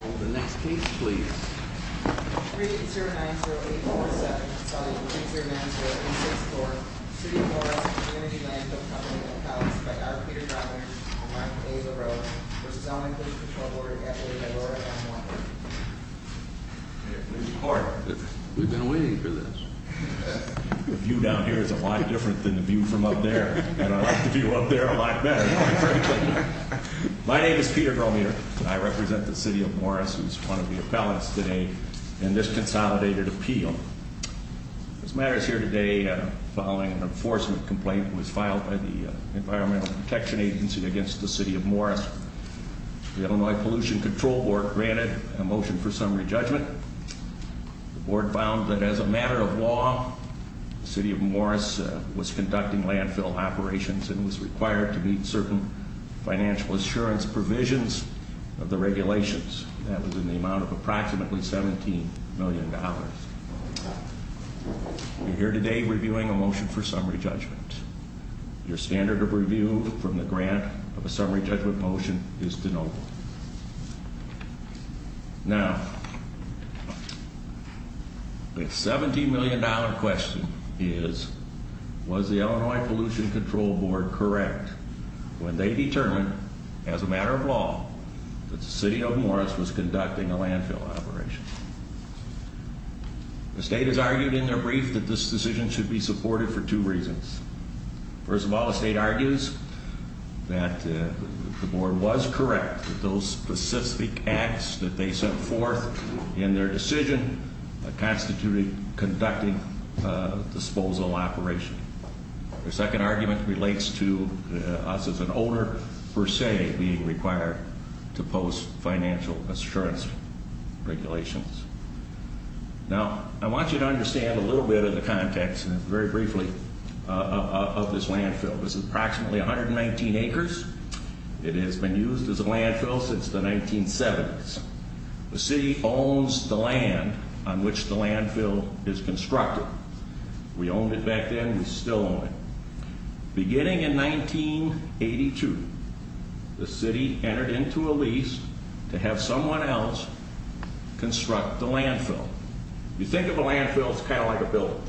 The next case please. Regents Room 90847, Assembly of Regents Room 90864, City of Morris, Community Landfill Company, and Colleges by Dr. Peter Gromier, and Mark A. LaRosa, v. Illinois Pollution Control Board, and Adelaide, Aurora, and Montgomery. Here, please report. We've been waiting for this. The view down here is a lot different than the view from up there, and I like the view up there a lot better, quite frankly. My name is Peter Gromier, and I represent the City of Morris, who is one of the appellants today in this consolidated appeal. This matter is here today following an enforcement complaint that was filed by the Environmental Protection Agency against the City of Morris. The Illinois Pollution Control Board granted a motion for summary judgment. The board found that as a matter of law, the City of Morris was conducting landfill operations and was required to meet certain financial assurance provisions of the regulations. That was in the amount of approximately $17 million. We're here today reviewing a motion for summary judgment. Your standard of review from the grant of a summary judgment motion is de novo. Now, the $17 million question is, was the Illinois Pollution Control Board correct when they determined, as a matter of law, that the City of Morris was conducting a landfill operation? The state has argued in their brief that this decision should be supported for two reasons. First of all, the state argues that the board was correct that those specific acts that they set forth in their decision constituted conducting a disposal operation. Their second argument relates to us as an owner, per se, being required to post financial assurance regulations. Now, I want you to understand a little bit of the context, very briefly, of this landfill. This is approximately 119 acres. It has been used as a landfill since the 1970s. The city owns the land on which the landfill is constructed. We owned it back then. We still own it. Beginning in 1982, the city entered into a lease to have someone else construct the landfill. You think of a landfill as kind of like a building.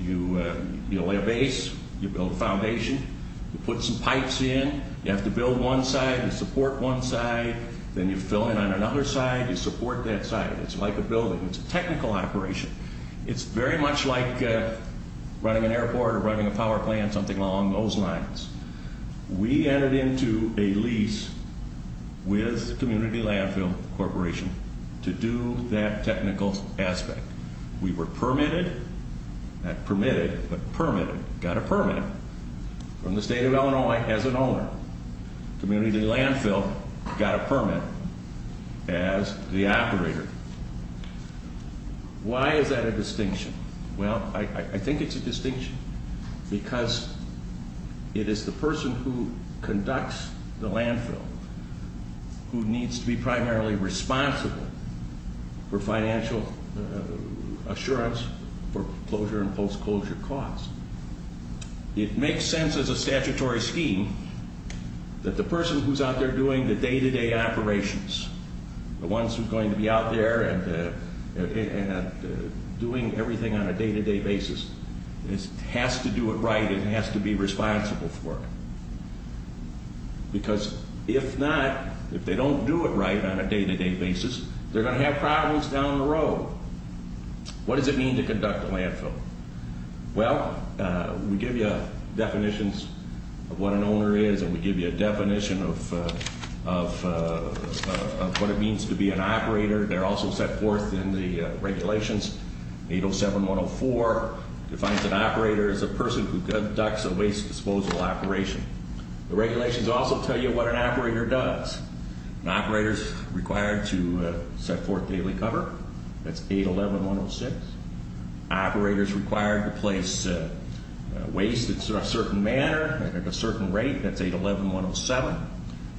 You lay a base. You build a foundation. You put some pipes in. You have to build one side and support one side. Then you fill in on another side. You support that side. It's like a building. It's a technical operation. It's very much like running an airport or running a power plant, something along those lines. We entered into a lease with Community Landfill Corporation to do that technical aspect. We were permitted, not permitted, but permitted, got a permit from the state of Illinois as an owner. Community Landfill got a permit as the operator. Why is that a distinction? Well, I think it's a distinction because it is the person who conducts the landfill who needs to be primarily responsible for financial assurance for closure and post-closure costs. It makes sense as a statutory scheme that the person who's out there doing the day-to-day operations, the ones who are going to be out there and doing everything on a day-to-day basis, has to do it right and has to be responsible for it. Because if not, if they don't do it right on a day-to-day basis, they're going to have problems down the road. What does it mean to conduct a landfill? Well, we give you definitions of what an owner is, and we give you a definition of what it means to be an operator. They're also set forth in the regulations. 807-104 defines an operator as a person who conducts a waste disposal operation. The regulations also tell you what an operator does. An operator is required to set forth daily cover. That's 811-106. An operator is required to place waste in a certain manner and at a certain rate. That's 811-107. An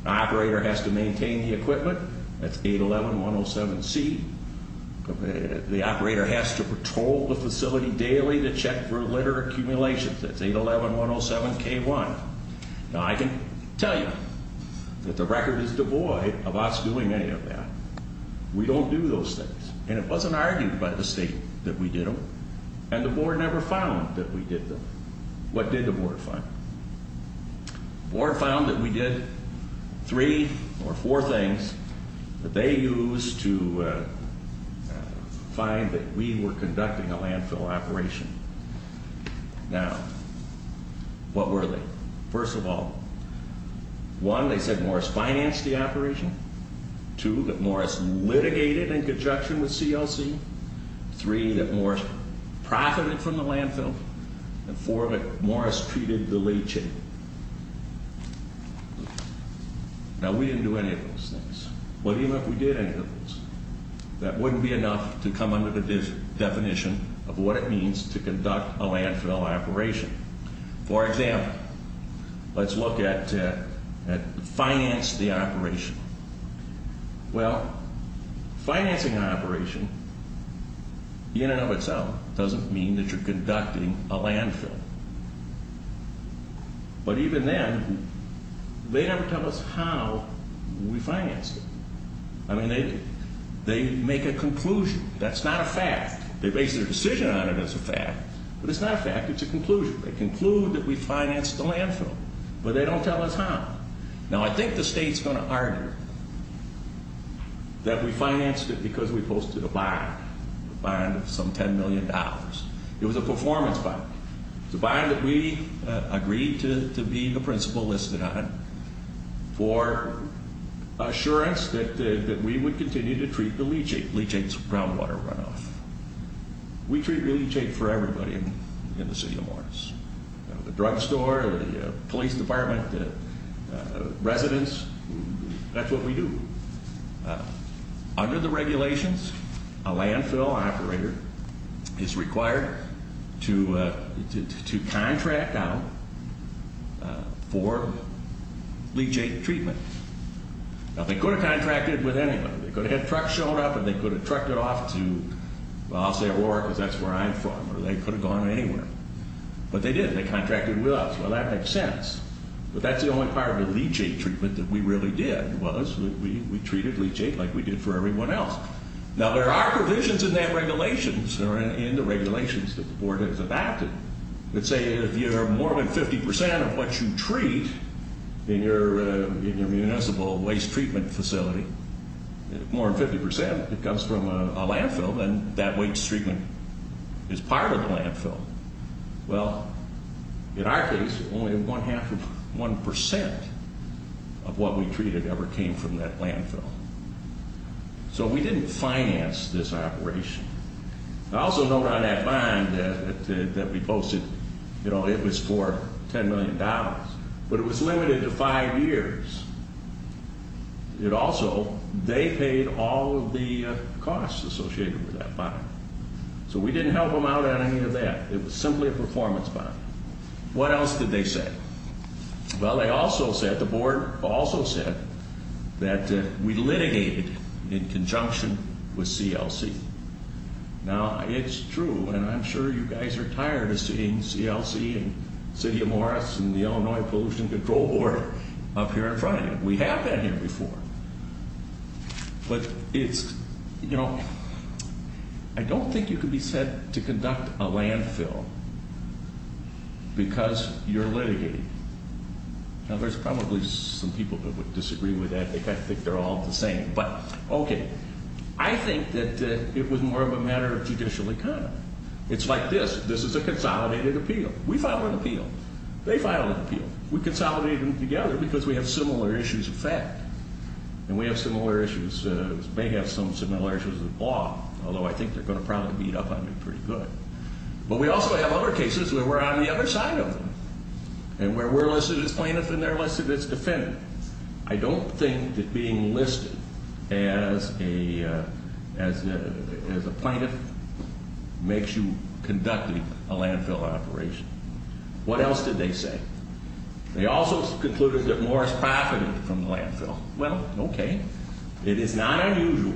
operator has to maintain the equipment. That's 811-107-C. The operator has to patrol the facility daily to check for litter accumulations. That's 811-107-K1. Now, I can tell you that the record is devoid of us doing any of that. We don't do those things. And it wasn't argued by the state that we did them, and the board never found that we did them. What did the board find? The board found that we did three or four things that they used to find that we were conducting a landfill operation. Now, what were they? First of all, one, they said Morris financed the operation. Two, that Morris litigated in conjunction with CLC. Three, that Morris profited from the landfill. And four, that Morris treated the leachate. Now, we didn't do any of those things. What do you know if we did any of those? That wouldn't be enough to come under the definition of what it means to conduct a landfill operation. For example, let's look at finance the operation. Well, financing an operation, in and of itself, doesn't mean that you're conducting a landfill. But even then, they never tell us how we financed it. I mean, they make a conclusion. That's not a fact. They base their decision on it as a fact. But it's not a fact. It's a conclusion. They conclude that we financed the landfill. But they don't tell us how. Now, I think the state's going to argue that we financed it because we posted a bond, a bond of some $10 million. It was a performance bond. It was a bond that we agreed to be the principal listed on for assurance that we would continue to treat the leachate, leachate's groundwater runoff. We treat leachate for everybody in the city of Morris, the drugstore, the police department, residents. That's what we do. Under the regulations, a landfill operator is required to contract out for leachate treatment. Now, they could have contracted with anybody. They could have had trucks showing up, and they could have trucked it off to, well, I'll say Aurora because that's where I'm from. Or they could have gone anywhere. But they did. They contracted with us. Well, that makes sense. But that's the only part of the leachate treatment that we really did was we treated leachate like we did for everyone else. Now, there are provisions in that regulations or in the regulations that the board has adopted that say if you're more than 50 percent of what you treat in your municipal waste treatment facility, if more than 50 percent comes from a landfill, then that waste treatment is part of the landfill. Well, in our case, only one half of one percent of what we treated ever came from that landfill. So we didn't finance this operation. I also note on that bond that we posted, you know, it was for $10 million. But it was limited to five years. It also, they paid all of the costs associated with that bond. So we didn't help them out on any of that. It was simply a performance bond. What else did they say? Well, they also said, the board also said that we litigated in conjunction with CLC. Now, it's true, and I'm sure you guys are tired of seeing CLC and City of Morris and the Illinois Pollution Control Board up here in front of you. We have been here before. But it's, you know, I don't think you can be said to conduct a landfill because you're litigating. Now, there's probably some people that would disagree with that. I think they're all the same. But, okay, I think that it was more of a matter of judicial economy. It's like this. This is a consolidated appeal. We filed an appeal. They filed an appeal. We consolidated them together because we have similar issues of fact. And we have similar issues, may have some similar issues of law, although I think they're going to probably beat up on me pretty good. But we also have other cases where we're on the other side of them and where we're less of a plaintiff and they're less of a defendant. I don't think that being listed as a plaintiff makes you conducting a landfill operation. What else did they say? They also concluded that Morris profited from the landfill. Well, okay. It is not unusual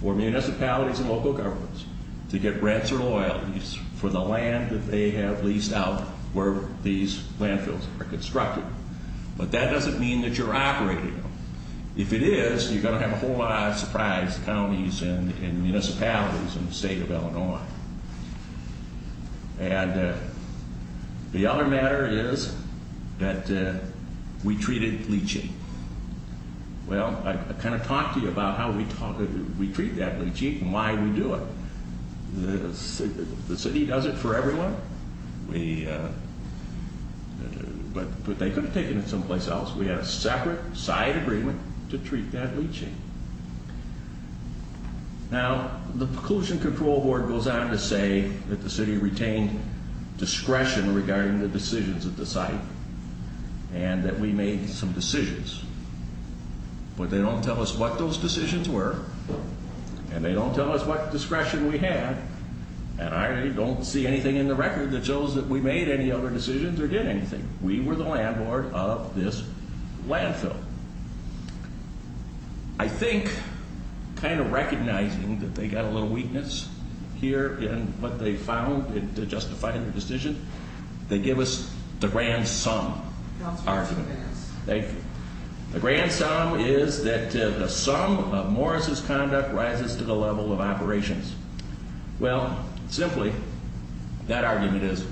for municipalities and local governments to get rents or loyalties for the land that they have leased out where these landfills are constructed. But that doesn't mean that you're operating them. If it is, you're going to have a whole lot of surprise to counties and municipalities in the state of Illinois. And the other matter is that we treated bleaching. Well, I kind of talked to you about how we treat that bleaching and why we do it. The city does it for everyone. But they could have taken it someplace else. We had a separate side agreement to treat that bleaching. Now, the Pollution Control Board goes on to say that the city retained discretion regarding the decisions of the site and that we made some decisions. But they don't tell us what those decisions were and they don't tell us what discretion we had. And I don't see anything in the record that shows that we made any other decisions or did anything. We were the landlord of this landfill. I think kind of recognizing that they got a little weakness here in what they found to justify their decision, they give us the grand sum argument. The grand sum is that the sum of Morris' conduct rises to the level of operations. Well, simply, that argument is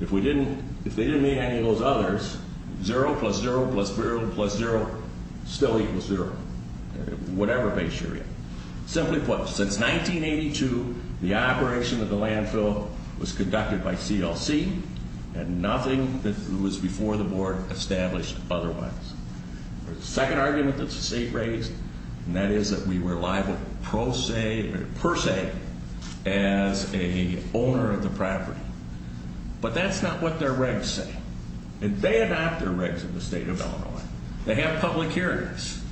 if they didn't make any of those others, zero plus zero plus zero plus zero still equals zero. Whatever base you're in. Simply put, since 1982, the operation of the landfill was conducted by CLC and nothing that was before the board established otherwise. The second argument that the state raised, and that is that we were liable per se as an owner of the property. But that's not what their regs say. And they adopt their regs in the state of Illinois. They have public hearings.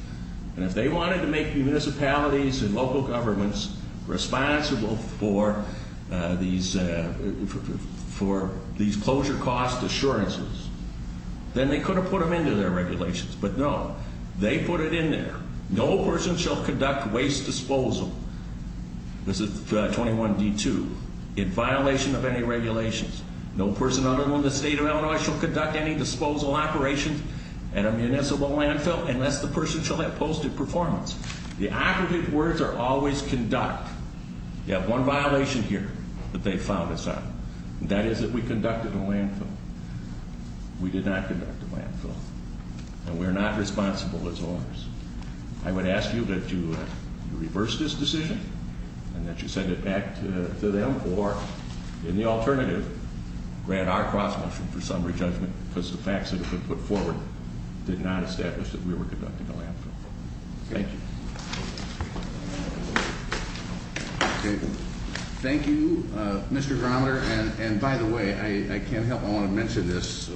And if they wanted to make municipalities and local governments responsible for these closure cost assurances, then they could have put them into their regulations. But no, they put it in there. No person shall conduct waste disposal, this is 21D2, in violation of any regulations. No person other than the state of Illinois shall conduct any disposal operations at a municipal landfill unless the person shall have posted performance. The operative words are always conduct. You have one violation here that they found us on. And that is that we conducted a landfill. We did not conduct a landfill. And we are not responsible as owners. I would ask you that you reverse this decision and that you send it back to them. Or in the alternative, grant our cross motion for summary judgment because the facts that have been put forward did not establish that we were conducting a landfill. Thank you. Thank you, Mr. Grometer. And by the way, I can't help but want to mention this.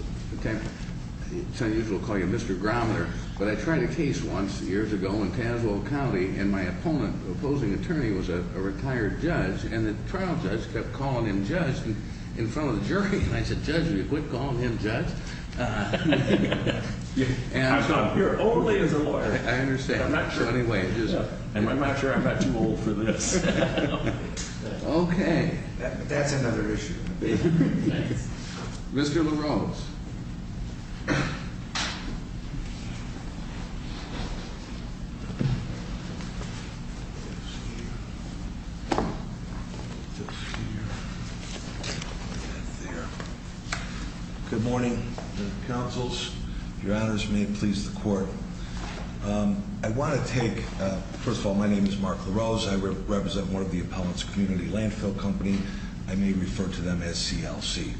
It's unusual to call you Mr. Grometer. But I tried a case once years ago in Tazewell County. And my opponent, opposing attorney, was a retired judge. And the trial judge kept calling him judge in front of the jury. And I said, judge, will you quit calling him judge? I'm not here only as a lawyer. I understand. I'm not sure I'm not too old for this. Okay. That's another issue. Thanks. Mr. LaRose. Good morning, counsels. Your honors may please the court. I want to take, first of all, my name is Mark LaRose. I represent one of the appellant's community landfill company. I may refer to them as CLC.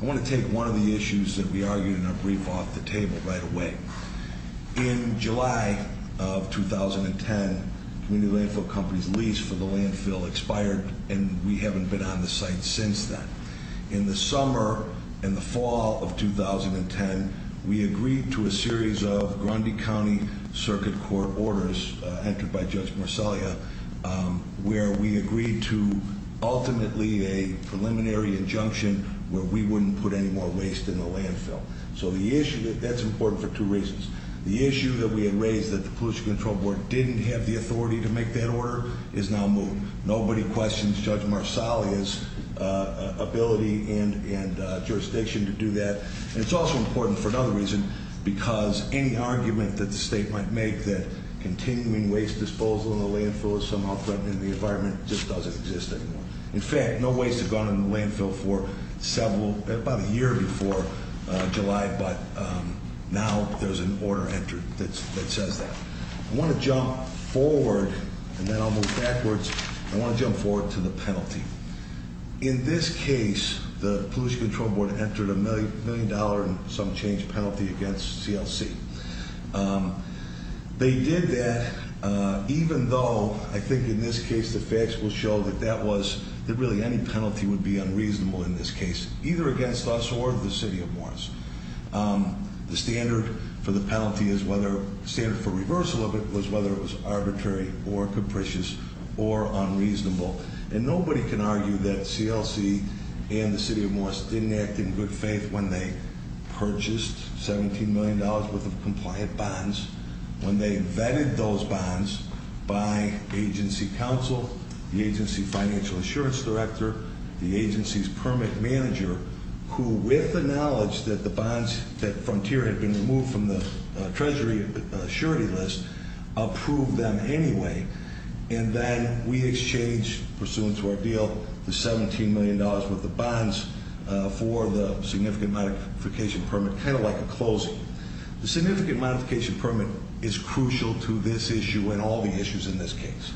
I want to take one of the issues that we argued in our brief off the table right away. In July of 2010, community landfill company's lease for the landfill expired. And we haven't been on the site since then. In the summer and the fall of 2010, we agreed to a series of Grundy County Circuit Court orders, entered by Judge Marcellia, where we agreed to ultimately a preliminary injunction where we wouldn't put any more waste in the landfill. So the issue, that's important for two reasons. The issue that we had raised that the Pollution Control Board didn't have the authority to make that order is now moved. Nobody questions Judge Marcellia's ability and jurisdiction to do that. And it's also important for another reason, because any argument that the state might make that continuing waste disposal in the landfill is somehow threatening the environment just doesn't exist anymore. In fact, no waste has gone in the landfill for several, about a year before July, but now there's an order entered that says that. I want to jump forward, and then I'll move backwards. I want to jump forward to the penalty. In this case, the Pollution Control Board entered a million dollar and some change penalty against CLC. They did that, even though I think in this case the facts will show that that was, that really any penalty would be unreasonable in this case, either against us or the city of Morris. The standard for the penalty is whether, standard for reversal of it was whether it was arbitrary or capricious or unreasonable. And nobody can argue that CLC and the city of Morris didn't act in good faith when they purchased $17 million worth of compliant bonds, when they vetted those bonds by agency counsel, the agency financial assurance director, the agency's permit manager, who with the knowledge that the bonds, that frontier had been removed from the treasury surety list, approved them anyway. And then we exchanged, pursuant to our deal, the $17 million worth of bonds for the significant modification permit, kind of like a closing. The significant modification permit is crucial to this issue and all the issues in this case.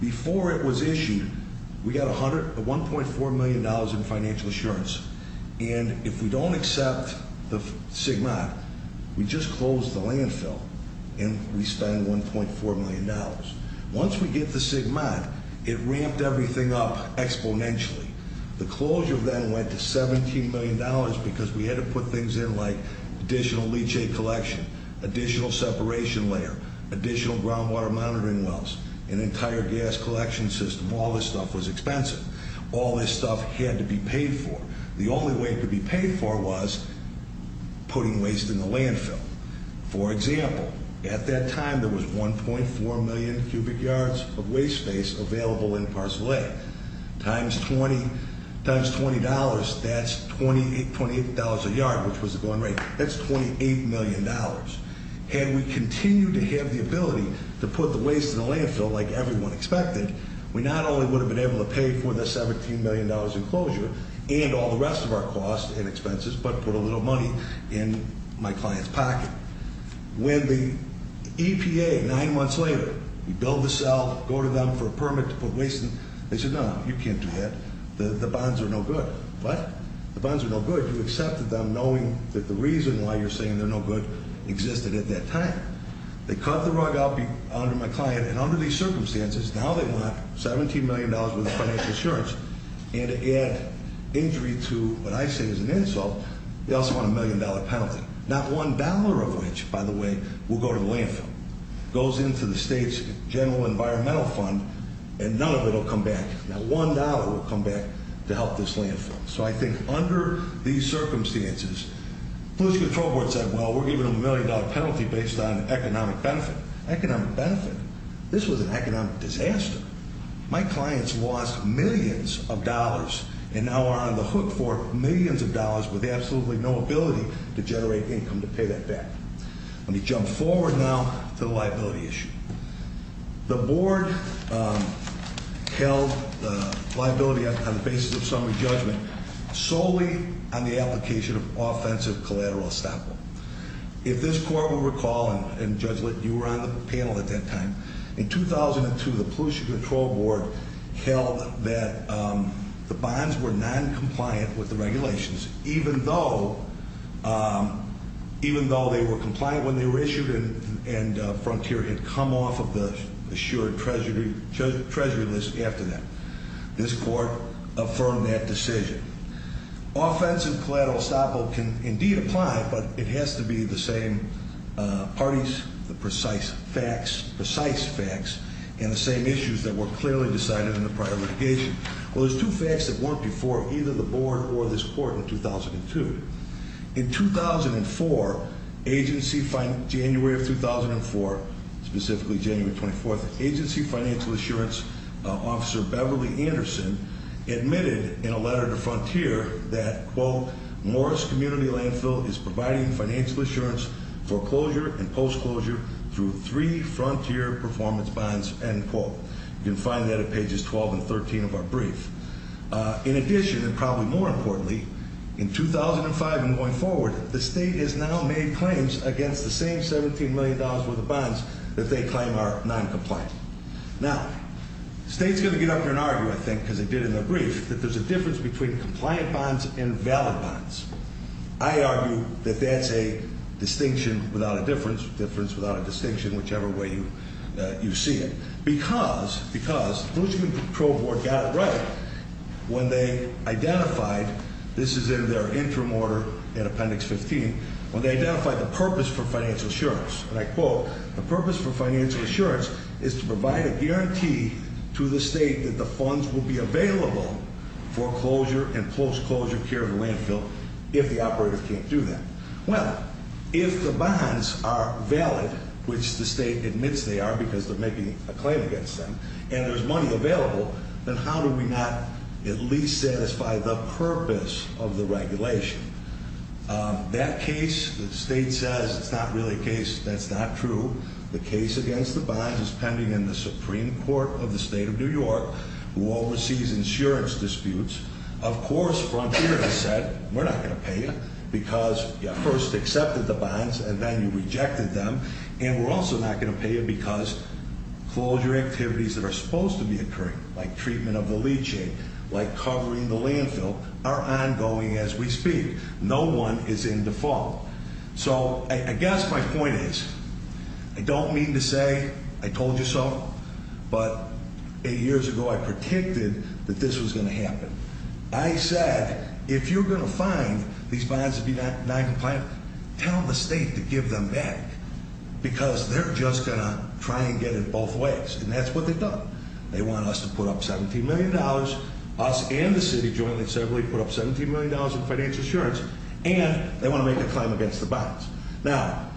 Before it was issued, we got $1.4 million in financial assurance. And if we don't accept the SGMAT, we just close the landfill and we spend $1.4 million. Once we get the SGMAT, it ramped everything up exponentially. The closure then went to $17 million because we had to put things in like additional leachate collection, additional separation layer, additional groundwater monitoring wells, an entire gas collection system. All this stuff was expensive. All this stuff had to be paid for. The only way it could be paid for was putting waste in the landfill. For example, at that time, there was 1.4 million cubic yards of waste space available in Parcel A. Times $20, that's $28 a yard, which was the going rate. That's $28 million. Had we continued to have the ability to put the waste in the landfill like everyone expected, we not only would have been able to pay for the $17 million in closure and all the rest of our costs and expenses, but put a little money in my client's pocket. When the EPA, nine months later, we build the cell, go to them for a permit to put waste in, they said, no, you can't do that. The bonds are no good. What? The bonds are no good. You accepted them knowing that the reason why you're saying they're no good existed at that time. They cut the rug out under my client, and under these circumstances, now they want $17 million worth of financial insurance. And to add injury to what I say is an insult, they also want a million-dollar penalty. Not one dollar of which, by the way, will go to the landfill. It goes into the state's general environmental fund, and none of it will come back. Not one dollar will come back to help this landfill. So I think under these circumstances, the police control board said, well, we're giving them a million-dollar penalty based on economic benefit. Economic benefit? This was an economic disaster. My clients lost millions of dollars and now are on the hook for millions of dollars with absolutely no ability to generate income to pay that back. Let me jump forward now to the liability issue. The board held liability on the basis of summary judgment solely on the application of offensive collateral estoppel. If this court will recall, and Judge Litt, you were on the panel at that time, in 2002, the pollution control board held that the bonds were noncompliant with the regulations, even though they were compliant when they were issued and Frontier had come off of the assured treasury list after that. This court affirmed that decision. Offensive collateral estoppel can indeed apply, but it has to be the same parties, the precise facts, and the same issues that were clearly decided in the prior litigation. Well, there's two facts that weren't before either the board or this court in 2002. In 2004, January of 2004, specifically January 24th, agency financial assurance officer Beverly Anderson admitted in a letter to Frontier that, quote, Morris Community Landfill is providing financial assurance for closure and post-closure through three Frontier performance bonds, end quote. You can find that at pages 12 and 13 of our brief. In addition, and probably more importantly, in 2005 and going forward, the state has now made claims against the same $17 million worth of bonds that they claim are noncompliant. Now, the state's going to get up here and argue, I think, because it did in the brief, that there's a difference between compliant bonds and valid bonds. I argue that that's a distinction without a difference, difference without a distinction, whichever way you see it. Because, because, the Bloomington Patrol Board got it right when they identified, this is in their interim order in Appendix 15, when they identified the purpose for financial assurance, and I quote, the purpose for financial assurance is to provide a guarantee to the state that the funds will be available for closure and post-closure care of the landfill if the operator can't do that. Well, if the bonds are valid, which the state admits they are because they're making a claim against them, and there's money available, then how do we not at least satisfy the purpose of the regulation? That case, the state says it's not really a case that's not true. The case against the bonds is pending in the Supreme Court of the State of New York, who oversees insurance disputes. Of course, Frontier has said, we're not going to pay you because you first accepted the bonds and then you rejected them, and we're also not going to pay you because closure activities that are supposed to be occurring, like treatment of the leaching, like covering the landfill, are ongoing as we speak. No one is in default. So, I guess my point is, I don't mean to say I told you so, but eight years ago I predicted that this was going to happen. I said, if you're going to find these bonds to be noncompliant, tell the state to give them back, because they're just going to try and get it both ways, and that's what they've done. They want us to put up $17 million, us and the city jointly and separately put up $17 million in financial insurance, and they want to make a claim against the bonds. Now,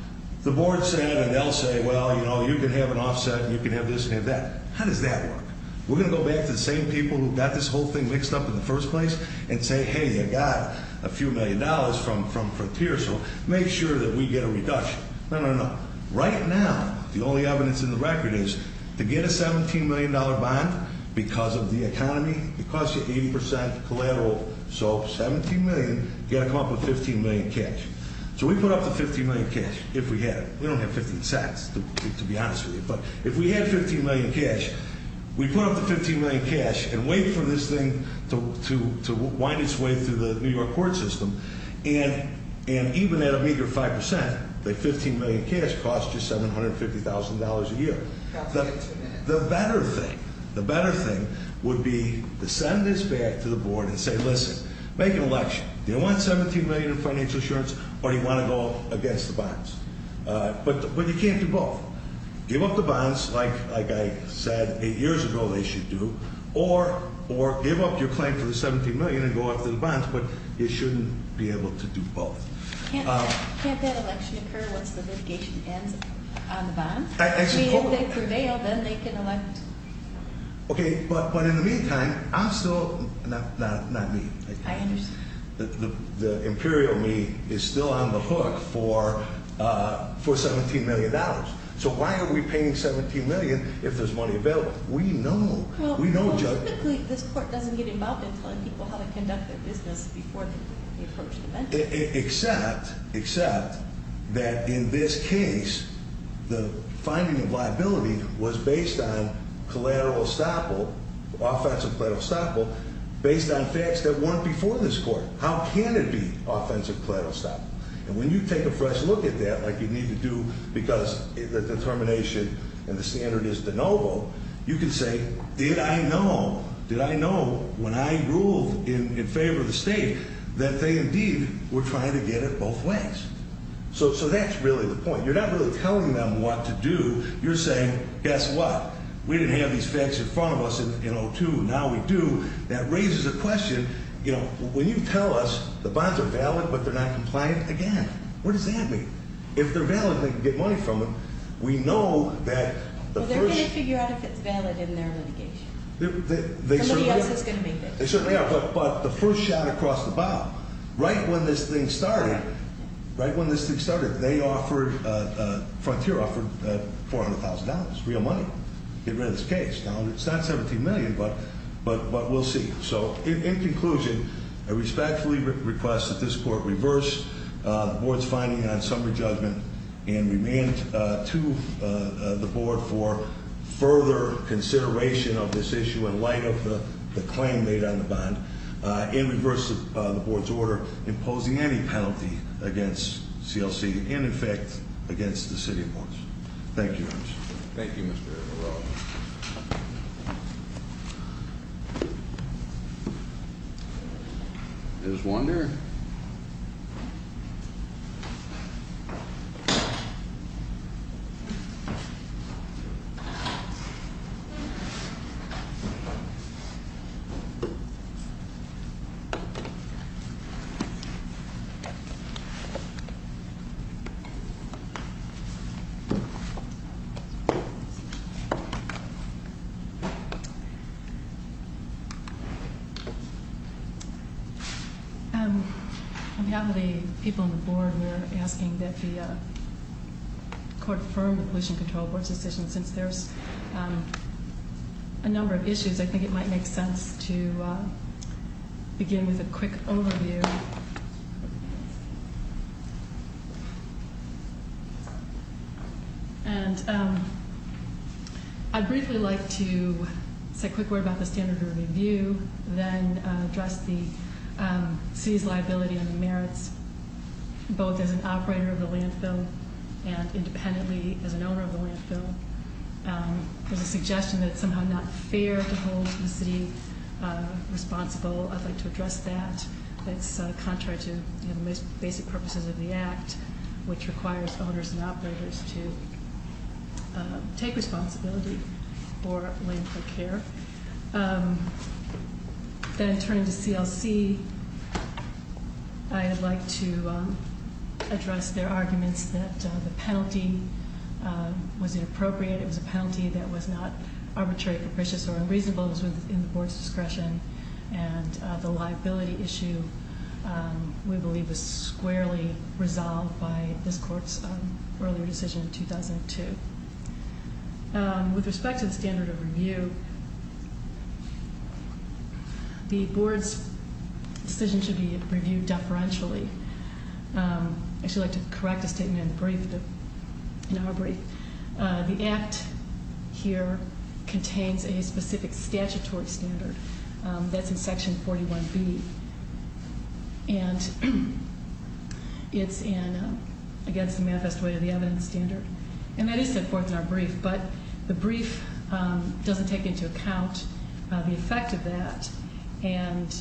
the board said, and they'll say, well, you know, you can have an offset and you can have this and have that. How does that work? We're going to go back to the same people who got this whole thing mixed up in the first place and say, hey, you got a few million dollars from Frontier, so make sure that we get a reduction. No, no, no. Right now, the only evidence in the record is to get a $17 million bond because of the economy, it costs you 80% collateral, so $17 million, you've got to come up with $15 million cash. So we put up the $15 million cash if we had it. We don't have $0.15 to be honest with you, but if we had $15 million cash, we put up the $15 million cash and wait for this thing to wind its way through the New York court system, and even at a meager 5%, the $15 million cash costs you $750,000 a year. The better thing, the better thing would be to send this back to the board and say, listen, make an election. Do you want $17 million in financial assurance or do you want to go against the bonds? But you can't do both. Give up the bonds, like I said eight years ago they should do, or give up your claim for the $17 million and go after the bonds, but you shouldn't be able to do both. Can't that election occur once the litigation ends on the bonds? If they prevail, then they can elect. Okay, but in the meantime, I'm still, not me. I understand. The imperial me is still on the hook for $17 million. So why are we paying $17 million if there's money available? We know. Well, typically this court doesn't get involved in telling people how to conduct their business before they approach the bench. Except that in this case, the finding of liability was based on collateral estoppel, based on facts that weren't before this court. How can it be offensive collateral estoppel? And when you take a fresh look at that, like you need to do because the determination and the standard is de novo, you can say, did I know, did I know when I ruled in favor of the state that they indeed were trying to get it both ways? So that's really the point. You're not really telling them what to do. You're saying, guess what? We didn't have these facts in front of us in 02. Now we do. That raises a question. You know, when you tell us the bonds are valid but they're not compliant, again, what does that mean? If they're valid and they can get money from them, we know that the first- Well, they're going to figure out if it's valid in their litigation. Somebody else is going to make that decision. They certainly are. But the first shot across the bow, right when this thing started, right when this thing started, they offered, Frontier offered $400,000, real money to get rid of this case. Now, it's not $17 million, but we'll see. So in conclusion, I respectfully request that this Court reverse the Board's finding on summary judgment and remand to the Board for further consideration of this issue in light of the claim made on the bond and reverse the Board's order imposing any penalty against CLC and, in fact, against the City of Lawrence. Thank you, Your Honor. Thank you, Mr. O'Rourke. There's one there. Thank you. I'm happy the people on the Board were asking that the Court affirm the Pollution Control Board's decision. Since there's a number of issues, I think it might make sense to begin with a quick overview. And I'd briefly like to say a quick word about the standard of review, then address the City's liability and the merits, both as an operator of the landfill and independently as an owner of the landfill. There's a suggestion that it's somehow not fair to hold the City responsible. I'd like to address that. It's contrary to the most basic purposes of the Act, which requires owners and operators to take responsibility for landfill care. Then turning to CLC, I'd like to address their arguments that the penalty was inappropriate. It was a penalty that was not arbitrary, capricious, or unreasonable. It was within the Board's discretion. And the liability issue, we believe, was squarely resolved by this Court's earlier decision in 2002. With respect to the standard of review, the Board's decision should be reviewed deferentially. I'd actually like to correct a statement in our brief. The Act here contains a specific statutory standard that's in Section 41B, and it's against the manifest way of the evidence standard. And that is set forth in our brief, but the brief doesn't take into account the effect of that. And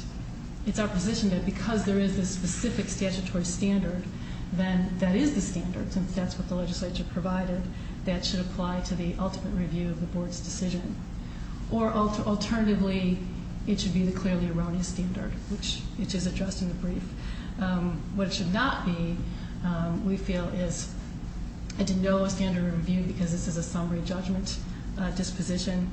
it's our position that because there is a specific statutory standard, then that is the standard, since that's what the legislature provided, that should apply to the ultimate review of the Board's decision. Or alternatively, it should be the clearly erroneous standard, which is addressed in the brief. What it should not be, we feel, is a no standard of review because this is a summary judgment disposition.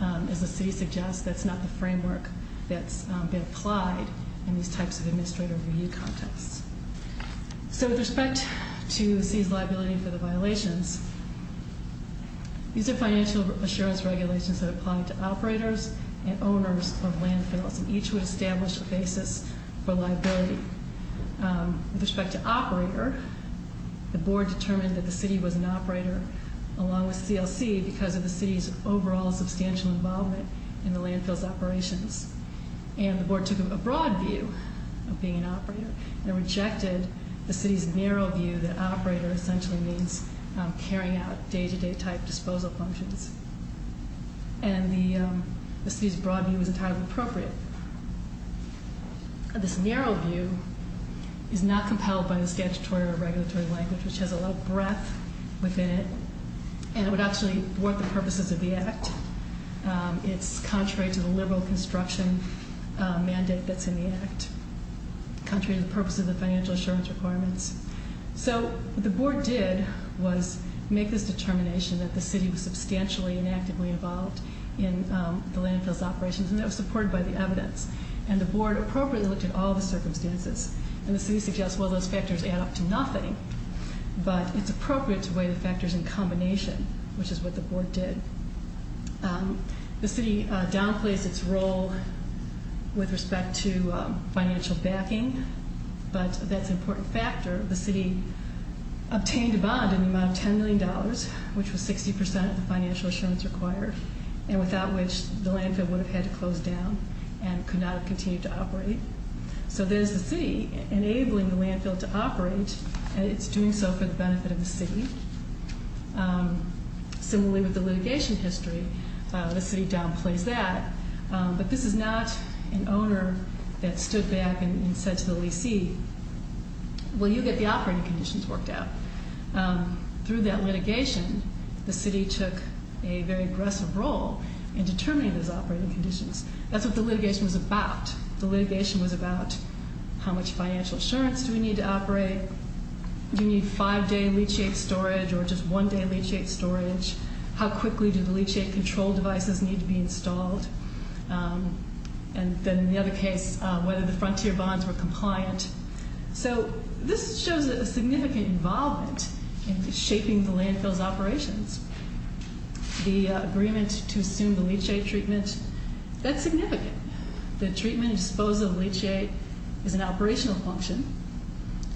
As the city suggests, that's not the framework that's been applied in these types of administrative review contexts. So with respect to the city's liability for the violations, these are financial assurance regulations that apply to operators and owners of landfills. And each would establish a basis for liability. With respect to operator, the Board determined that the city was an operator along with CLC because of the city's overall substantial involvement in the landfill's operations. And the Board took a broad view of being an operator and rejected the city's narrow view that operator essentially means carrying out day-to-day type disposal functions. And the city's broad view is entirely appropriate. This narrow view is not compelled by the statutory or regulatory language, which has a lot of breadth within it. And it would actually work the purposes of the Act. It's contrary to the liberal construction mandate that's in the Act, contrary to the purpose of the financial assurance requirements. So what the Board did was make this determination that the city was substantially and actively involved in the landfill's operations. And that was supported by the evidence. And the Board appropriately looked at all the circumstances. And the city suggests, well, those factors add up to nothing, but it's appropriate to weigh the factors in combination, which is what the Board did. The city downplays its role with respect to financial backing, but that's an important factor. The city obtained a bond in the amount of $10 million, which was 60 percent of the financial assurance required, and without which the landfill would have had to close down and could not have continued to operate. So there's the city enabling the landfill to operate, and it's doing so for the benefit of the city. Similarly with the litigation history, the city downplays that. But this is not an owner that stood back and said to the lessee, well, you get the operating conditions worked out. Through that litigation, the city took a very aggressive role in determining those operating conditions. That's what the litigation was about. The litigation was about how much financial assurance do we need to operate? Do we need five-day leachate storage or just one-day leachate storage? How quickly do the leachate control devices need to be installed? And then in the other case, whether the frontier bonds were compliant. So this shows a significant involvement in shaping the landfill's operations. The agreement to assume the leachate treatment, that's significant. The treatment and disposal of leachate is an operational function,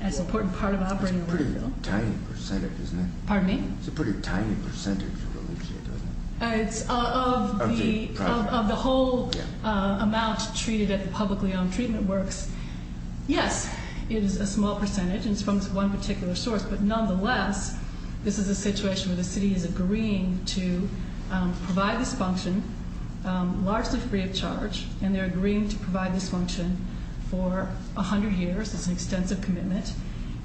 and it's an important part of operating the landfill. That's a pretty tiny percentage, isn't it? Pardon me? It's a pretty tiny percentage of the leachate, isn't it? It's of the whole amount treated at the publicly-owned treatment works. Yes, it is a small percentage, and it's from this one particular source. But nonetheless, this is a situation where the city is agreeing to provide this function, largely free of charge. And they're agreeing to provide this function for 100 years. It's an extensive commitment.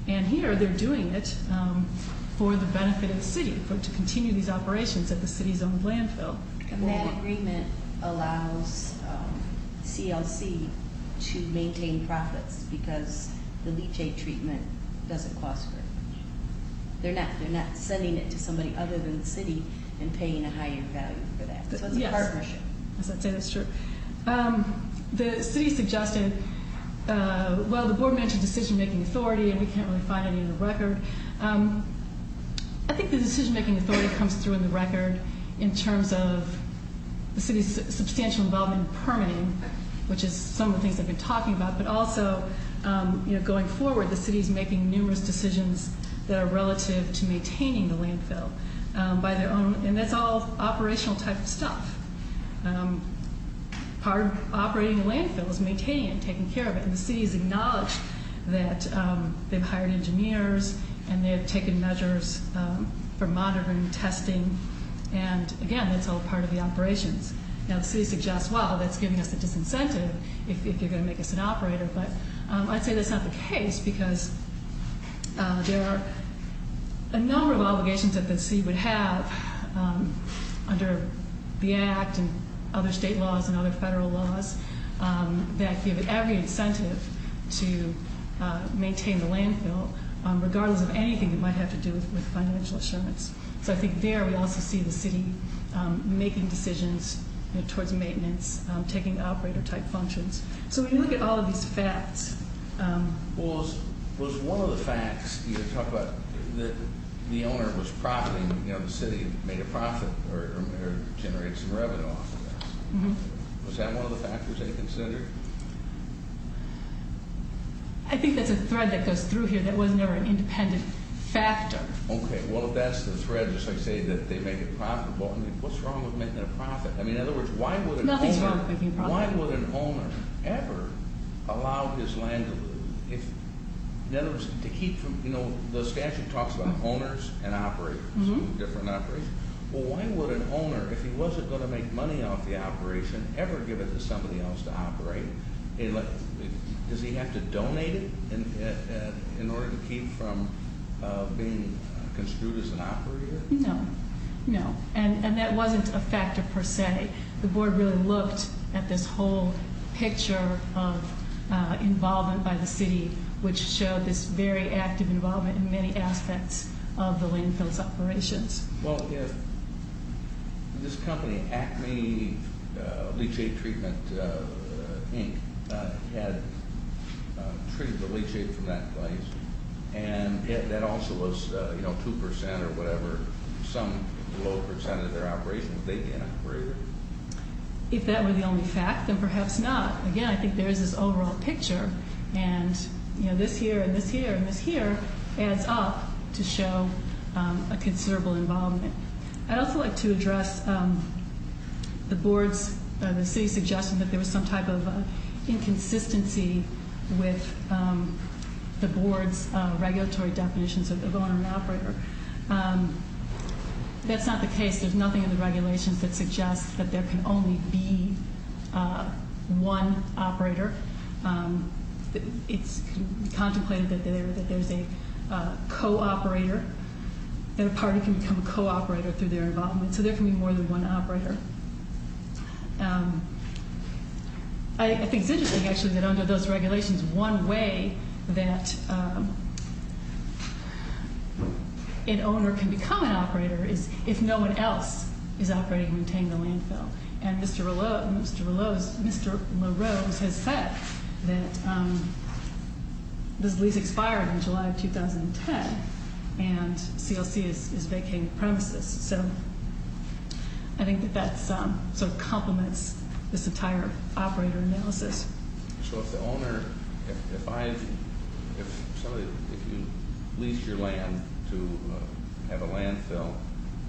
And here they're doing it for the benefit of the city, to continue these operations at the city's own landfill. And that agreement allows CLC to maintain profits because the leachate treatment doesn't cost very much. They're not sending it to somebody other than the city and paying a higher value for that. So it's a partnership. Yes, I'd say that's true. The city suggested, well, the board mentioned decision-making authority, and we can't really find any in the record. I think the decision-making authority comes through in the record in terms of the city's substantial involvement in permitting, which is some of the things I've been talking about. But also, going forward, the city is making numerous decisions that are relative to maintaining the landfill by their own, and that's all operational type of stuff. Part of operating the landfill is maintaining it and taking care of it, and the city has acknowledged that they've hired engineers and they have taken measures for monitoring and testing. And, again, that's all part of the operations. Now, the city suggests, well, that's giving us a disincentive if you're going to make us an operator. But I'd say that's not the case because there are a number of obligations that the city would have under the Act and other state laws and other federal laws that give it every incentive to maintain the landfill, regardless of anything it might have to do with financial assurance. So I think there we also see the city making decisions towards maintenance, taking operator-type functions. So when you look at all of these facts... Well, was one of the facts, you talk about the owner was profiting, you know, the city made a profit or generated some revenue off of this. Mm-hmm. Was that one of the factors they considered? I think that's a thread that goes through here. That wasn't ever an independent factor. Okay. Well, if that's the thread, just like say that they make a profit, well, I mean, what's wrong with making a profit? I mean, in other words, why would an owner... Nothing's wrong with making a profit. Why would an owner ever allow his land to lose? In other words, to keep... You know, the statute talks about owners and operators, different operations. Well, why would an owner, if he wasn't going to make money off the operation, ever give it to somebody else to operate? Does he have to donate it in order to keep from being construed as an operator? No. No. And that wasn't a factor per se. The board really looked at this whole picture of involvement by the city, which showed this very active involvement in many aspects of the landfill's operations. Well, this company, Acme Leachate Treatment, Inc., had treated the leachate from that place, and that also was 2% or whatever, some low percent of their operations, they didn't operate it. If that were the only fact, then perhaps not. Again, I think there is this overall picture, and this here and this here and this here adds up to show a considerable involvement. I'd also like to address the city's suggestion that there was some type of inconsistency with the board's regulatory definitions of owner and operator. That's not the case. There's nothing in the regulations that suggests that there can only be one operator. It's contemplated that there's a co-operator, that a party can become a co-operator through their involvement. So there can be more than one operator. I think it's interesting, actually, that under those regulations, one way that an owner can become an operator is if no one else is operating and retaining the landfill. And Mr. LaRose has said that this lease expired in July of 2010, and CLC is vacating the premises. So I think that that sort of complements this entire operator analysis. So if the owner, if I, if somebody, if you lease your land to have a landfill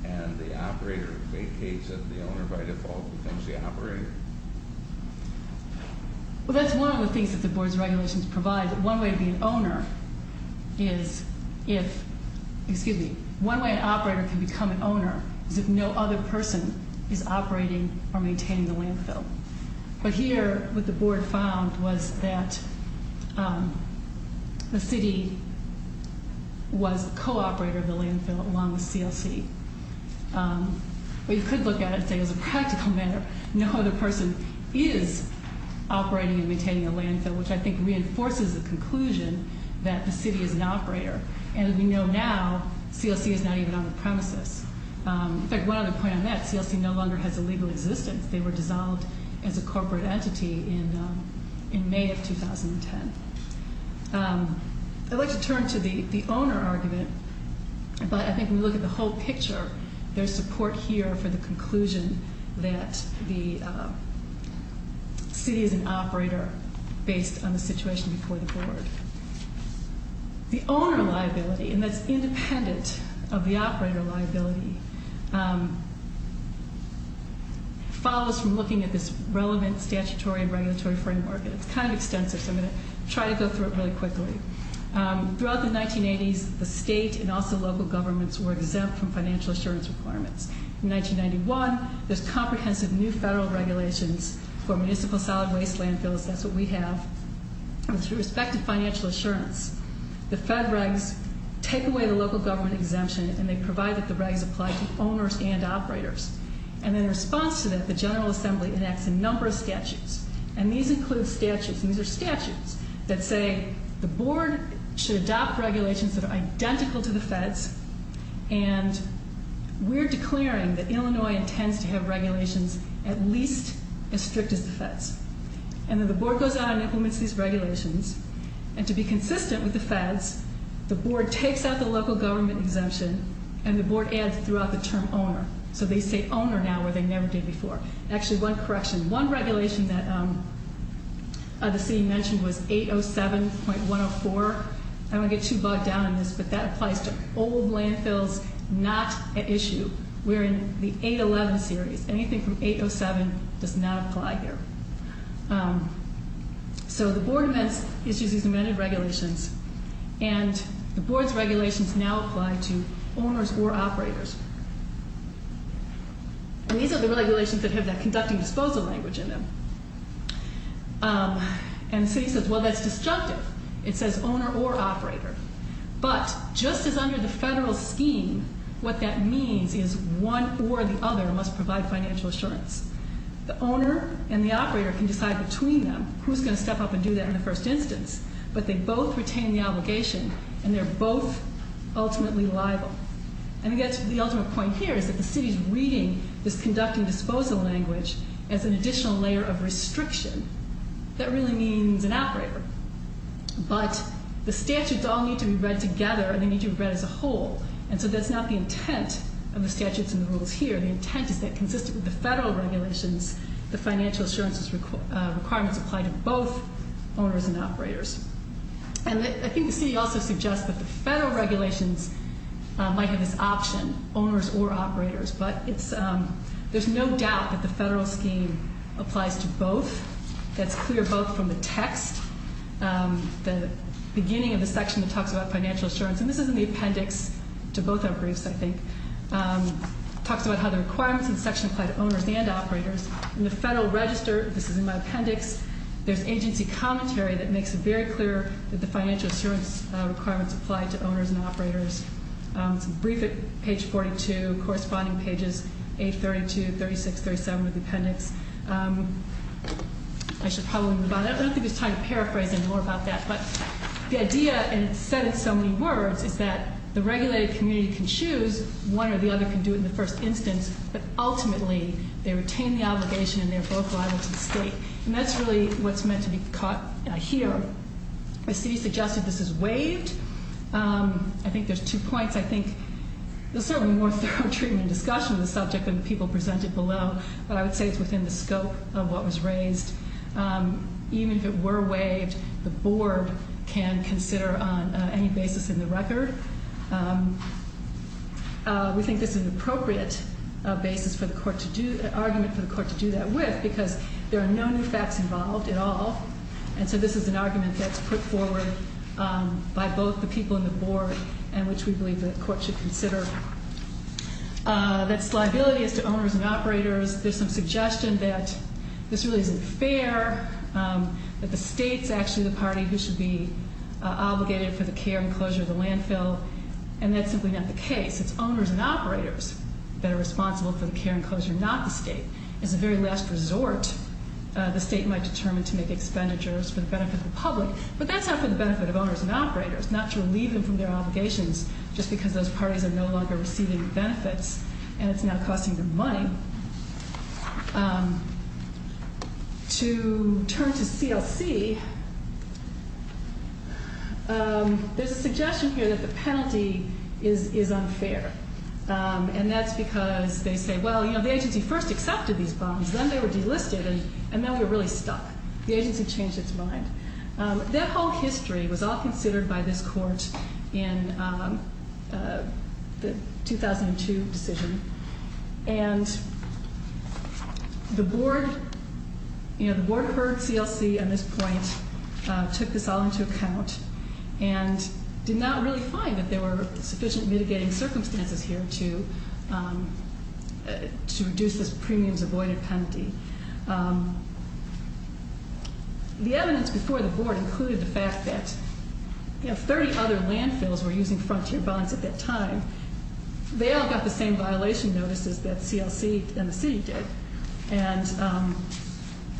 and the operator vacates it, the owner by default becomes the operator? Well, that's one of the things that the board's regulations provide. One way to be an owner is if, excuse me, one way an operator can become an owner is if no other person is operating or maintaining the landfill. But here, what the board found was that the city was a co-operator of the landfill along with CLC. We could look at it, say, as a practical matter. No other person is operating and maintaining a landfill, which I think reinforces the conclusion that the city is an operator. And we know now CLC is not even on the premises. In fact, one other point on that, CLC no longer has a legal existence. They were dissolved as a corporate entity in May of 2010. I'd like to turn to the owner argument, but I think when you look at the whole picture, there's support here for the conclusion that the city is an operator based on the situation before the board. The owner liability, and that's independent of the operator liability, follows from looking at this relevant statutory and regulatory framework. It's kind of extensive, so I'm going to try to go through it really quickly. Throughout the 1980s, the state and also local governments were exempt from financial assurance requirements. In 1991, there's comprehensive new federal regulations for municipal solid waste landfills. That's what we have. With respect to financial assurance, the fed regs take away the local government exemption, and they provide that the regs apply to owners and operators. And in response to that, the General Assembly enacts a number of statutes, and these include statutes, and these are statutes that say the board should adopt regulations that are identical to the feds, and we're declaring that Illinois intends to have regulations at least as strict as the feds. And then the board goes out and implements these regulations, and to be consistent with the feds, the board takes out the local government exemption, and the board adds throughout the term owner. So they say owner now, where they never did before. Actually, one correction. One regulation that the city mentioned was 807.104. I don't want to get too bogged down in this, but that applies to old landfills, not an issue. We're in the 811 series. Anything from 807 does not apply here. So the board issues these amended regulations, and the board's regulations now apply to owners or operators. And these are the regulations that have that conducting disposal language in them. And the city says, well, that's destructive. It says owner or operator. But just as under the federal scheme, what that means is one or the other must provide financial assurance. The owner and the operator can decide between them who's going to step up and do that in the first instance, but they both retain the obligation, and they're both ultimately liable. And again, the ultimate point here is that the city's reading this conducting disposal language as an additional layer of restriction. That really means an operator. But the statutes all need to be read together, and they need to be read as a whole. And so that's not the intent of the statutes and the rules here. The intent is that consistent with the federal regulations, the financial assurances requirements apply to both owners and operators. And I think the city also suggests that the federal regulations might have this option, owners or operators. But there's no doubt that the federal scheme applies to both. That's clear both from the text, the beginning of the section that talks about financial assurance. And this is in the appendix to both our briefs, I think. It talks about how the requirements in the section apply to owners and operators. In the federal register, this is in my appendix, there's agency commentary that makes it very clear that the financial assurance requirements apply to owners and operators. It's a brief at page 42, corresponding pages 832, 36, 37 of the appendix. I should probably move on. I don't think it's time to paraphrase any more about that. But the idea, and it's said in so many words, is that the regulated community can choose. One or the other can do it in the first instance. But ultimately, they retain the obligation and they're both liable to the state. And that's really what's meant to be caught here. The city suggested this is waived. I think there's two points. I think there's certainly more thorough treatment and discussion of the subject than the people presented below. But I would say it's within the scope of what was raised. Even if it were waived, the board can consider on any basis in the record. We think this is an appropriate argument for the court to do that with because there are no new facts involved at all. And so this is an argument that's put forward by both the people in the board and which we believe the court should consider. That's liability is to owners and operators. There's some suggestion that this really isn't fair, that the state's actually the party who should be obligated for the care and closure of the landfill. And that's simply not the case. It's owners and operators that are responsible for the care and closure, not the state. As a very last resort, the state might determine to make expenditures for the benefit of the public. But that's not for the benefit of owners and operators, not to relieve them from their obligations just because those parties are no longer receiving benefits and it's not costing them money. To turn to CLC, there's a suggestion here that the penalty is unfair. And that's because they say, well, you know, the agency first accepted these bonds, then they were delisted and then we were really stuck. The agency changed its mind. That whole history was all considered by this court in the 2002 decision. And the board, you know, the board heard CLC on this point, took this all into account and did not really find that there were sufficient mitigating circumstances here to reduce this premiums avoided penalty. The evidence before the board included the fact that, you know, 30 other landfills were using frontier bonds at that time. They all got the same violation notices that CLC and the city did. And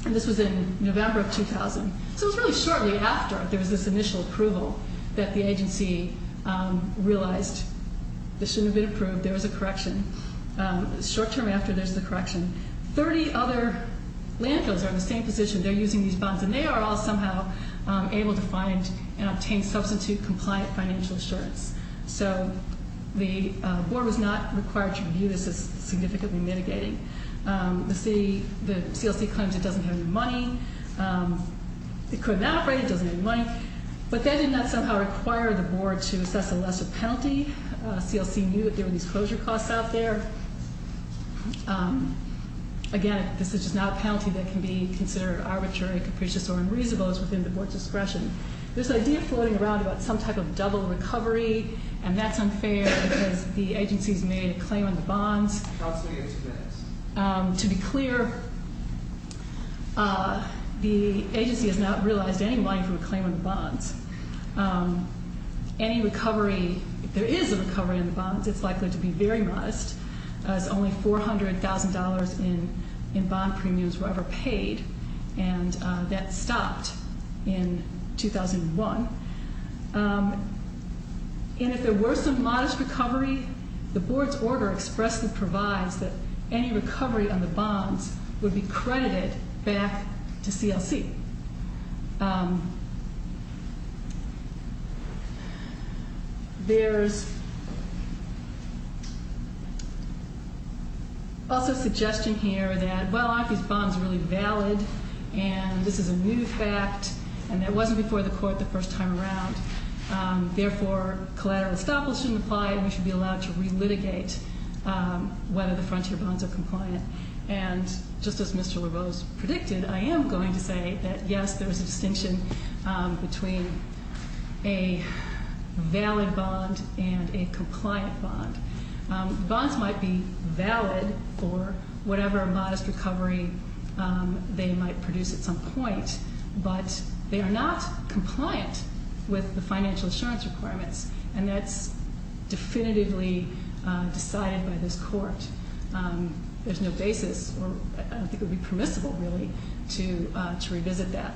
this was in November of 2000. So it was really shortly after there was this initial approval that the agency realized this shouldn't have been approved. There was a correction. Short term after, there's the correction. 30 other landfills are in the same position. They're using these bonds and they are all somehow able to find and obtain substitute compliant financial assurance. So the board was not required to review this as significantly mitigating. The city, the CLC claims it doesn't have any money. It could evaporate. It doesn't have any money. But that did not somehow require the board to assess a lesser penalty. CLC knew that there were these closure costs out there. Again, this is just not a penalty that can be considered arbitrary, capricious, or unreasonable. It's within the board's discretion. This idea of floating around about some type of double recovery, and that's unfair because the agency's made a claim on the bonds. To be clear, the agency has not realized any money from a claim on the bonds. Any recovery, if there is a recovery on the bonds, it's likely to be very modest, as only $400,000 in bond premiums were ever paid. And that stopped in 2001. And if there were some modest recovery, the board's order expressly provides that any recovery on the bonds would be credited back to CLC. There's also suggestion here that, well, I think this bond's really valid, and this is a new fact, and it wasn't before the court the first time around. Therefore, collateral estoppel shouldn't apply, and we should be allowed to relitigate whether the frontier bonds are compliant. And just as Mr. LaRose predicted, I am going to say that, yes, there is a distinction between a valid bond and a compliant bond. Bonds might be valid for whatever modest recovery they might produce at some point, but they are not compliant with the financial assurance requirements, and that's definitively decided by this court. There's no basis, or I don't think it would be permissible, really, to revisit that.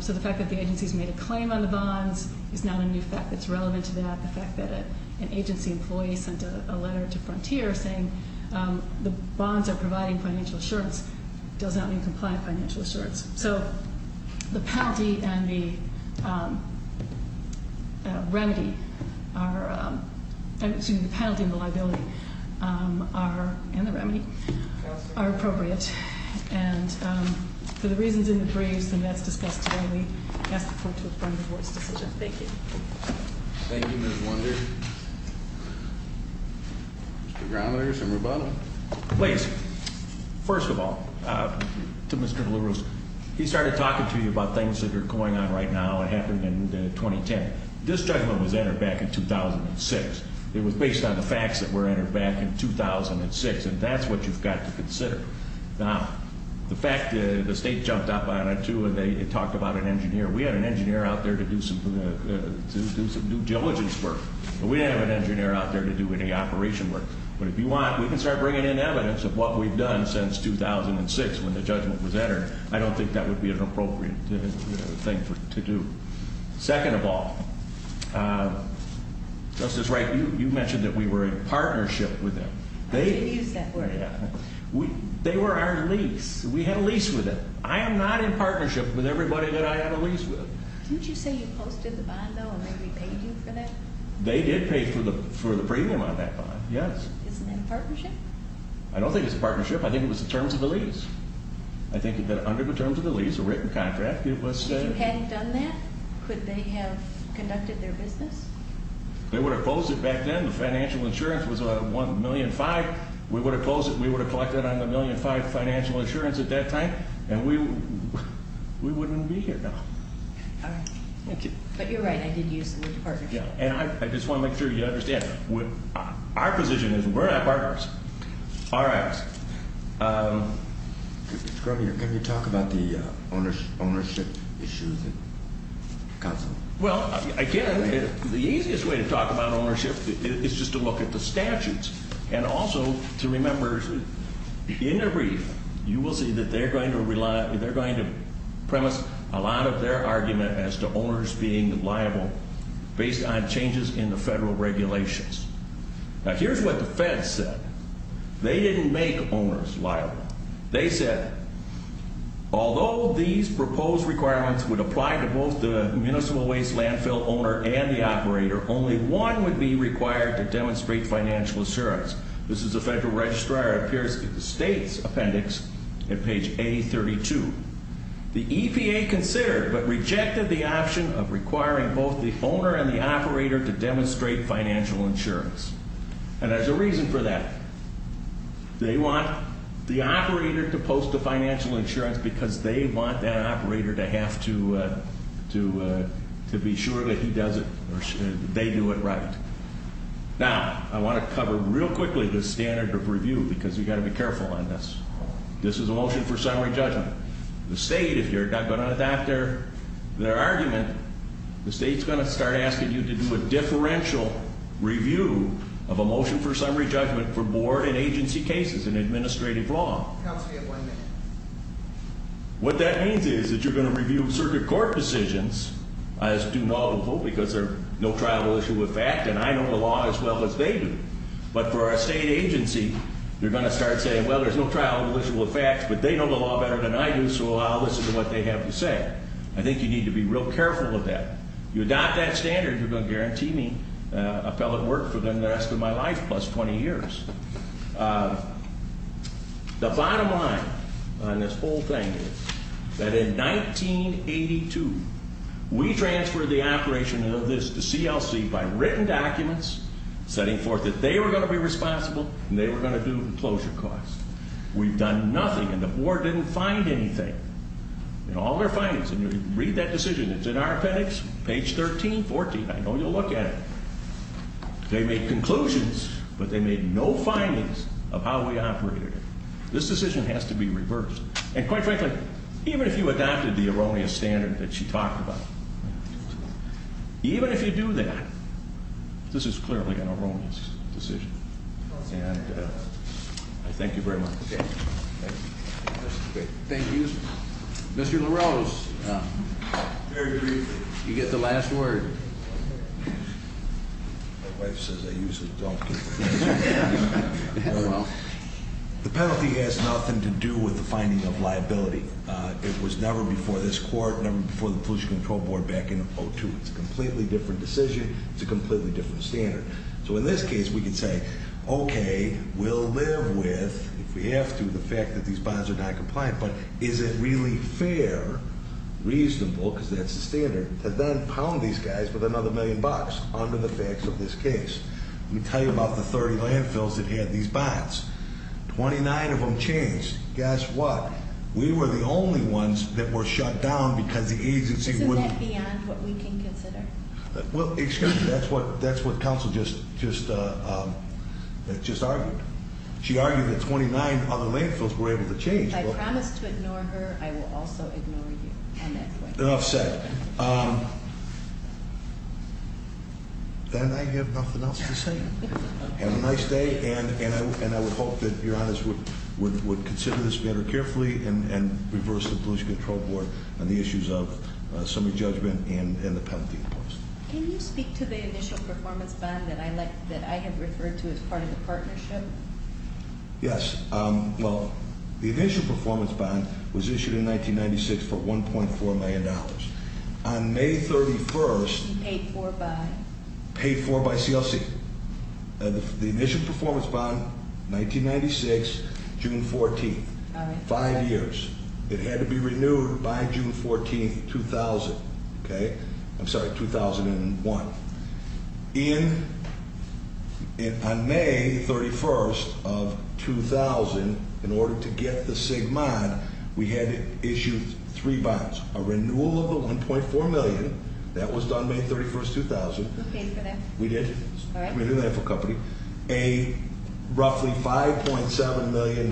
So the fact that the agency's made a claim on the bonds is not a new fact that's relevant to that. The fact that an agency employee sent a letter to Frontier saying the bonds are providing financial assurance does not mean compliant financial assurance. So the penalty and the remedy are, excuse me, the penalty and the liability are, and the remedy, are appropriate. And for the reasons in the briefs and that's discussed today, we ask the court to affirm the board's decision. Thank you. Thank you, Ms. Wunder. Mr. Grometers and Rubato. Please. First of all, to Mr. Louros, he started talking to you about things that are going on right now and happened in 2010. This judgment was entered back in 2006. It was based on the facts that were entered back in 2006, and that's what you've got to consider. Now, the fact that the state jumped up on it, too, and they talked about an engineer. We had an engineer out there to do some due diligence work, but we didn't have an engineer out there to do any operation work. But if you want, we can start bringing in evidence of what we've done since 2006 when the judgment was entered. I don't think that would be an appropriate thing to do. Second of all, Justice Wright, you mentioned that we were in partnership with them. I didn't use that word. They were our lease. We had a lease with them. I am not in partnership with everybody that I had a lease with. Didn't you say you posted the bond, though, and they repaid you for that? They did pay for the premium on that bond, yes. Isn't that a partnership? I don't think it's a partnership. I think it was the terms of the lease. I think that under the terms of the lease, a written contract, it was a— If you hadn't done that, could they have conducted their business? They would have closed it back then. The financial insurance was $1.5 million. We would have closed it. We would have collected on the $1.5 million financial insurance at that time, and we wouldn't be here now. All right. Thank you. But you're right. I did use the word partnership. I just want to make sure you understand. Our position is we're not partners. Mr. Croninger, can you talk about the ownership issues at counsel? Well, again, the easiest way to talk about ownership is just to look at the statutes and also to remember in a brief you will see that they're going to premise a lot of their argument as to owners being liable based on changes in the federal regulations. Now, here's what the Fed said. They didn't make owners liable. They said, although these proposed requirements would apply to both the municipal waste landfill owner and the operator, only one would be required to demonstrate financial assurance. This is the Federal Registrar. It appears in the state's appendix at page A32. The EPA considered but rejected the option of requiring both the owner and the operator to demonstrate financial insurance, and there's a reason for that. They want the operator to post the financial insurance because they want that operator to have to be sure that he does it or they do it right. Now, I want to cover real quickly the standard of review because you've got to be careful on this. This is a motion for summary judgment. The state, if you're not going to adopt their argument, the state's going to start asking you to do a differential review of a motion for summary judgment for board and agency cases in administrative law. Counsel, you have one minute. What that means is that you're going to review circuit court decisions as due and audible because they're no trial issue with fact, and I know the law as well as they do. But for a state agency, you're going to start saying, well, there's no trial issue with facts, but they know the law better than I do, so I'll listen to what they have to say. I think you need to be real careful of that. You adopt that standard, you're going to guarantee me appellate work for the rest of my life plus 20 years. The bottom line on this whole thing is that in 1982, we transferred the operation of this to CLC by written documents setting forth that they were going to be responsible, and they were going to do the closure costs. We've done nothing, and the board didn't find anything in all their findings. Read that decision. It's in our appendix, page 13, 14. I know you'll look at it. They made conclusions, but they made no findings of how we operated. This decision has to be reversed. And quite frankly, even if you adopted the erroneous standard that she talked about, even if you do that, this is clearly an erroneous decision. And I thank you very much. Thank you. Mr. LaRose, you get the last word. My wife says I use a donkey. It was never before this court, never before the Pollution Control Board back in 2002. It's a completely different decision. It's a completely different standard. So in this case, we can say, okay, we'll live with, if we have to, the fact that these bonds are noncompliant. But is it really fair, reasonable, because that's the standard, to then pound these guys with another million bucks under the facts of this case? Let me tell you about the 30 landfills that had these bonds. Twenty-nine of them changed. Guess what? We were the only ones that were shut down because the agency wouldn't- Is that beyond what we can consider? Well, excuse me. That's what counsel just argued. She argued that 29 other landfills were able to change. If I promise to ignore her, I will also ignore you on that point. Enough said. Then I have nothing else to say. Have a nice day, and I would hope that your honors would consider this matter carefully and reverse the Pollution Control Board on the issues of summary judgment and the penalty in place. Can you speak to the initial performance bond that I have referred to as part of the partnership? Yes. Well, the initial performance bond was issued in 1996 for $1.4 million. On May 31st- You paid for by? Paid for by CLC. The initial performance bond, 1996, June 14th. Five years. It had to be renewed by June 14th, 2000. I'm sorry, 2001. On May 31st of 2000, in order to get the SIG bond, we had issued three bonds. A renewal of the $1.4 million. That was done May 31st, 2000. You paid for that? We did. Community Landfill Company. A roughly $5.7 million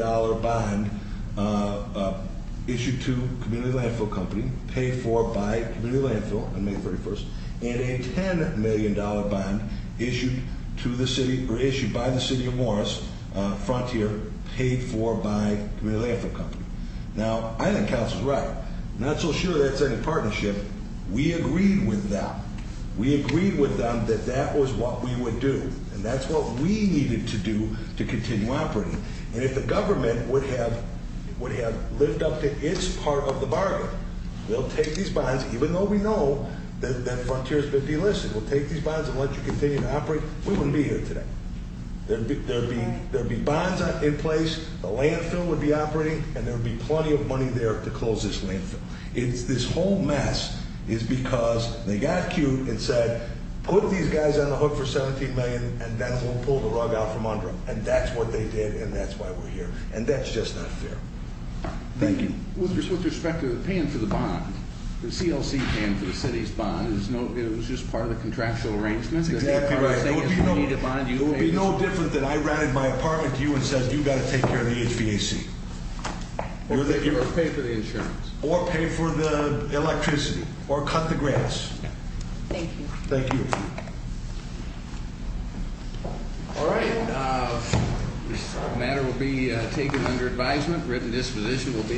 bond issued to Community Landfill Company, paid for by Community Landfill on May 31st. And a $10 million bond issued by the City of Morris, Frontier, paid for by Community Landfill Company. Now, I think Council's right. I'm not so sure that's in a partnership. We agreed with them. We agreed with them that that was what we would do. And that's what we needed to do to continue operating. And if the government would have lived up to its part of the bargain, they'll take these bonds, even though we know that Frontier's been delisted. We'll take these bonds and let you continue to operate. We wouldn't be here today. There would be bonds in place. The landfill would be operating. And there would be plenty of money there to close this landfill. This whole mess is because they got cute and said, put these guys on the hook for $17 million, and then we'll pull the rug out from under them. And that's what they did, and that's why we're here. And that's just not fair. Thank you. With respect to paying for the bond, the CLC paying for the city's bond, it was just part of the contractual arrangement? Exactly right. It would be no different than I ranted my apartment to you and said, you've got to take care of the HVAC. Or pay for the insurance. Or pay for the electricity. Or cut the grass. Thank you. Thank you. All right. This matter will be taken under advisement. Written disposition will be issued.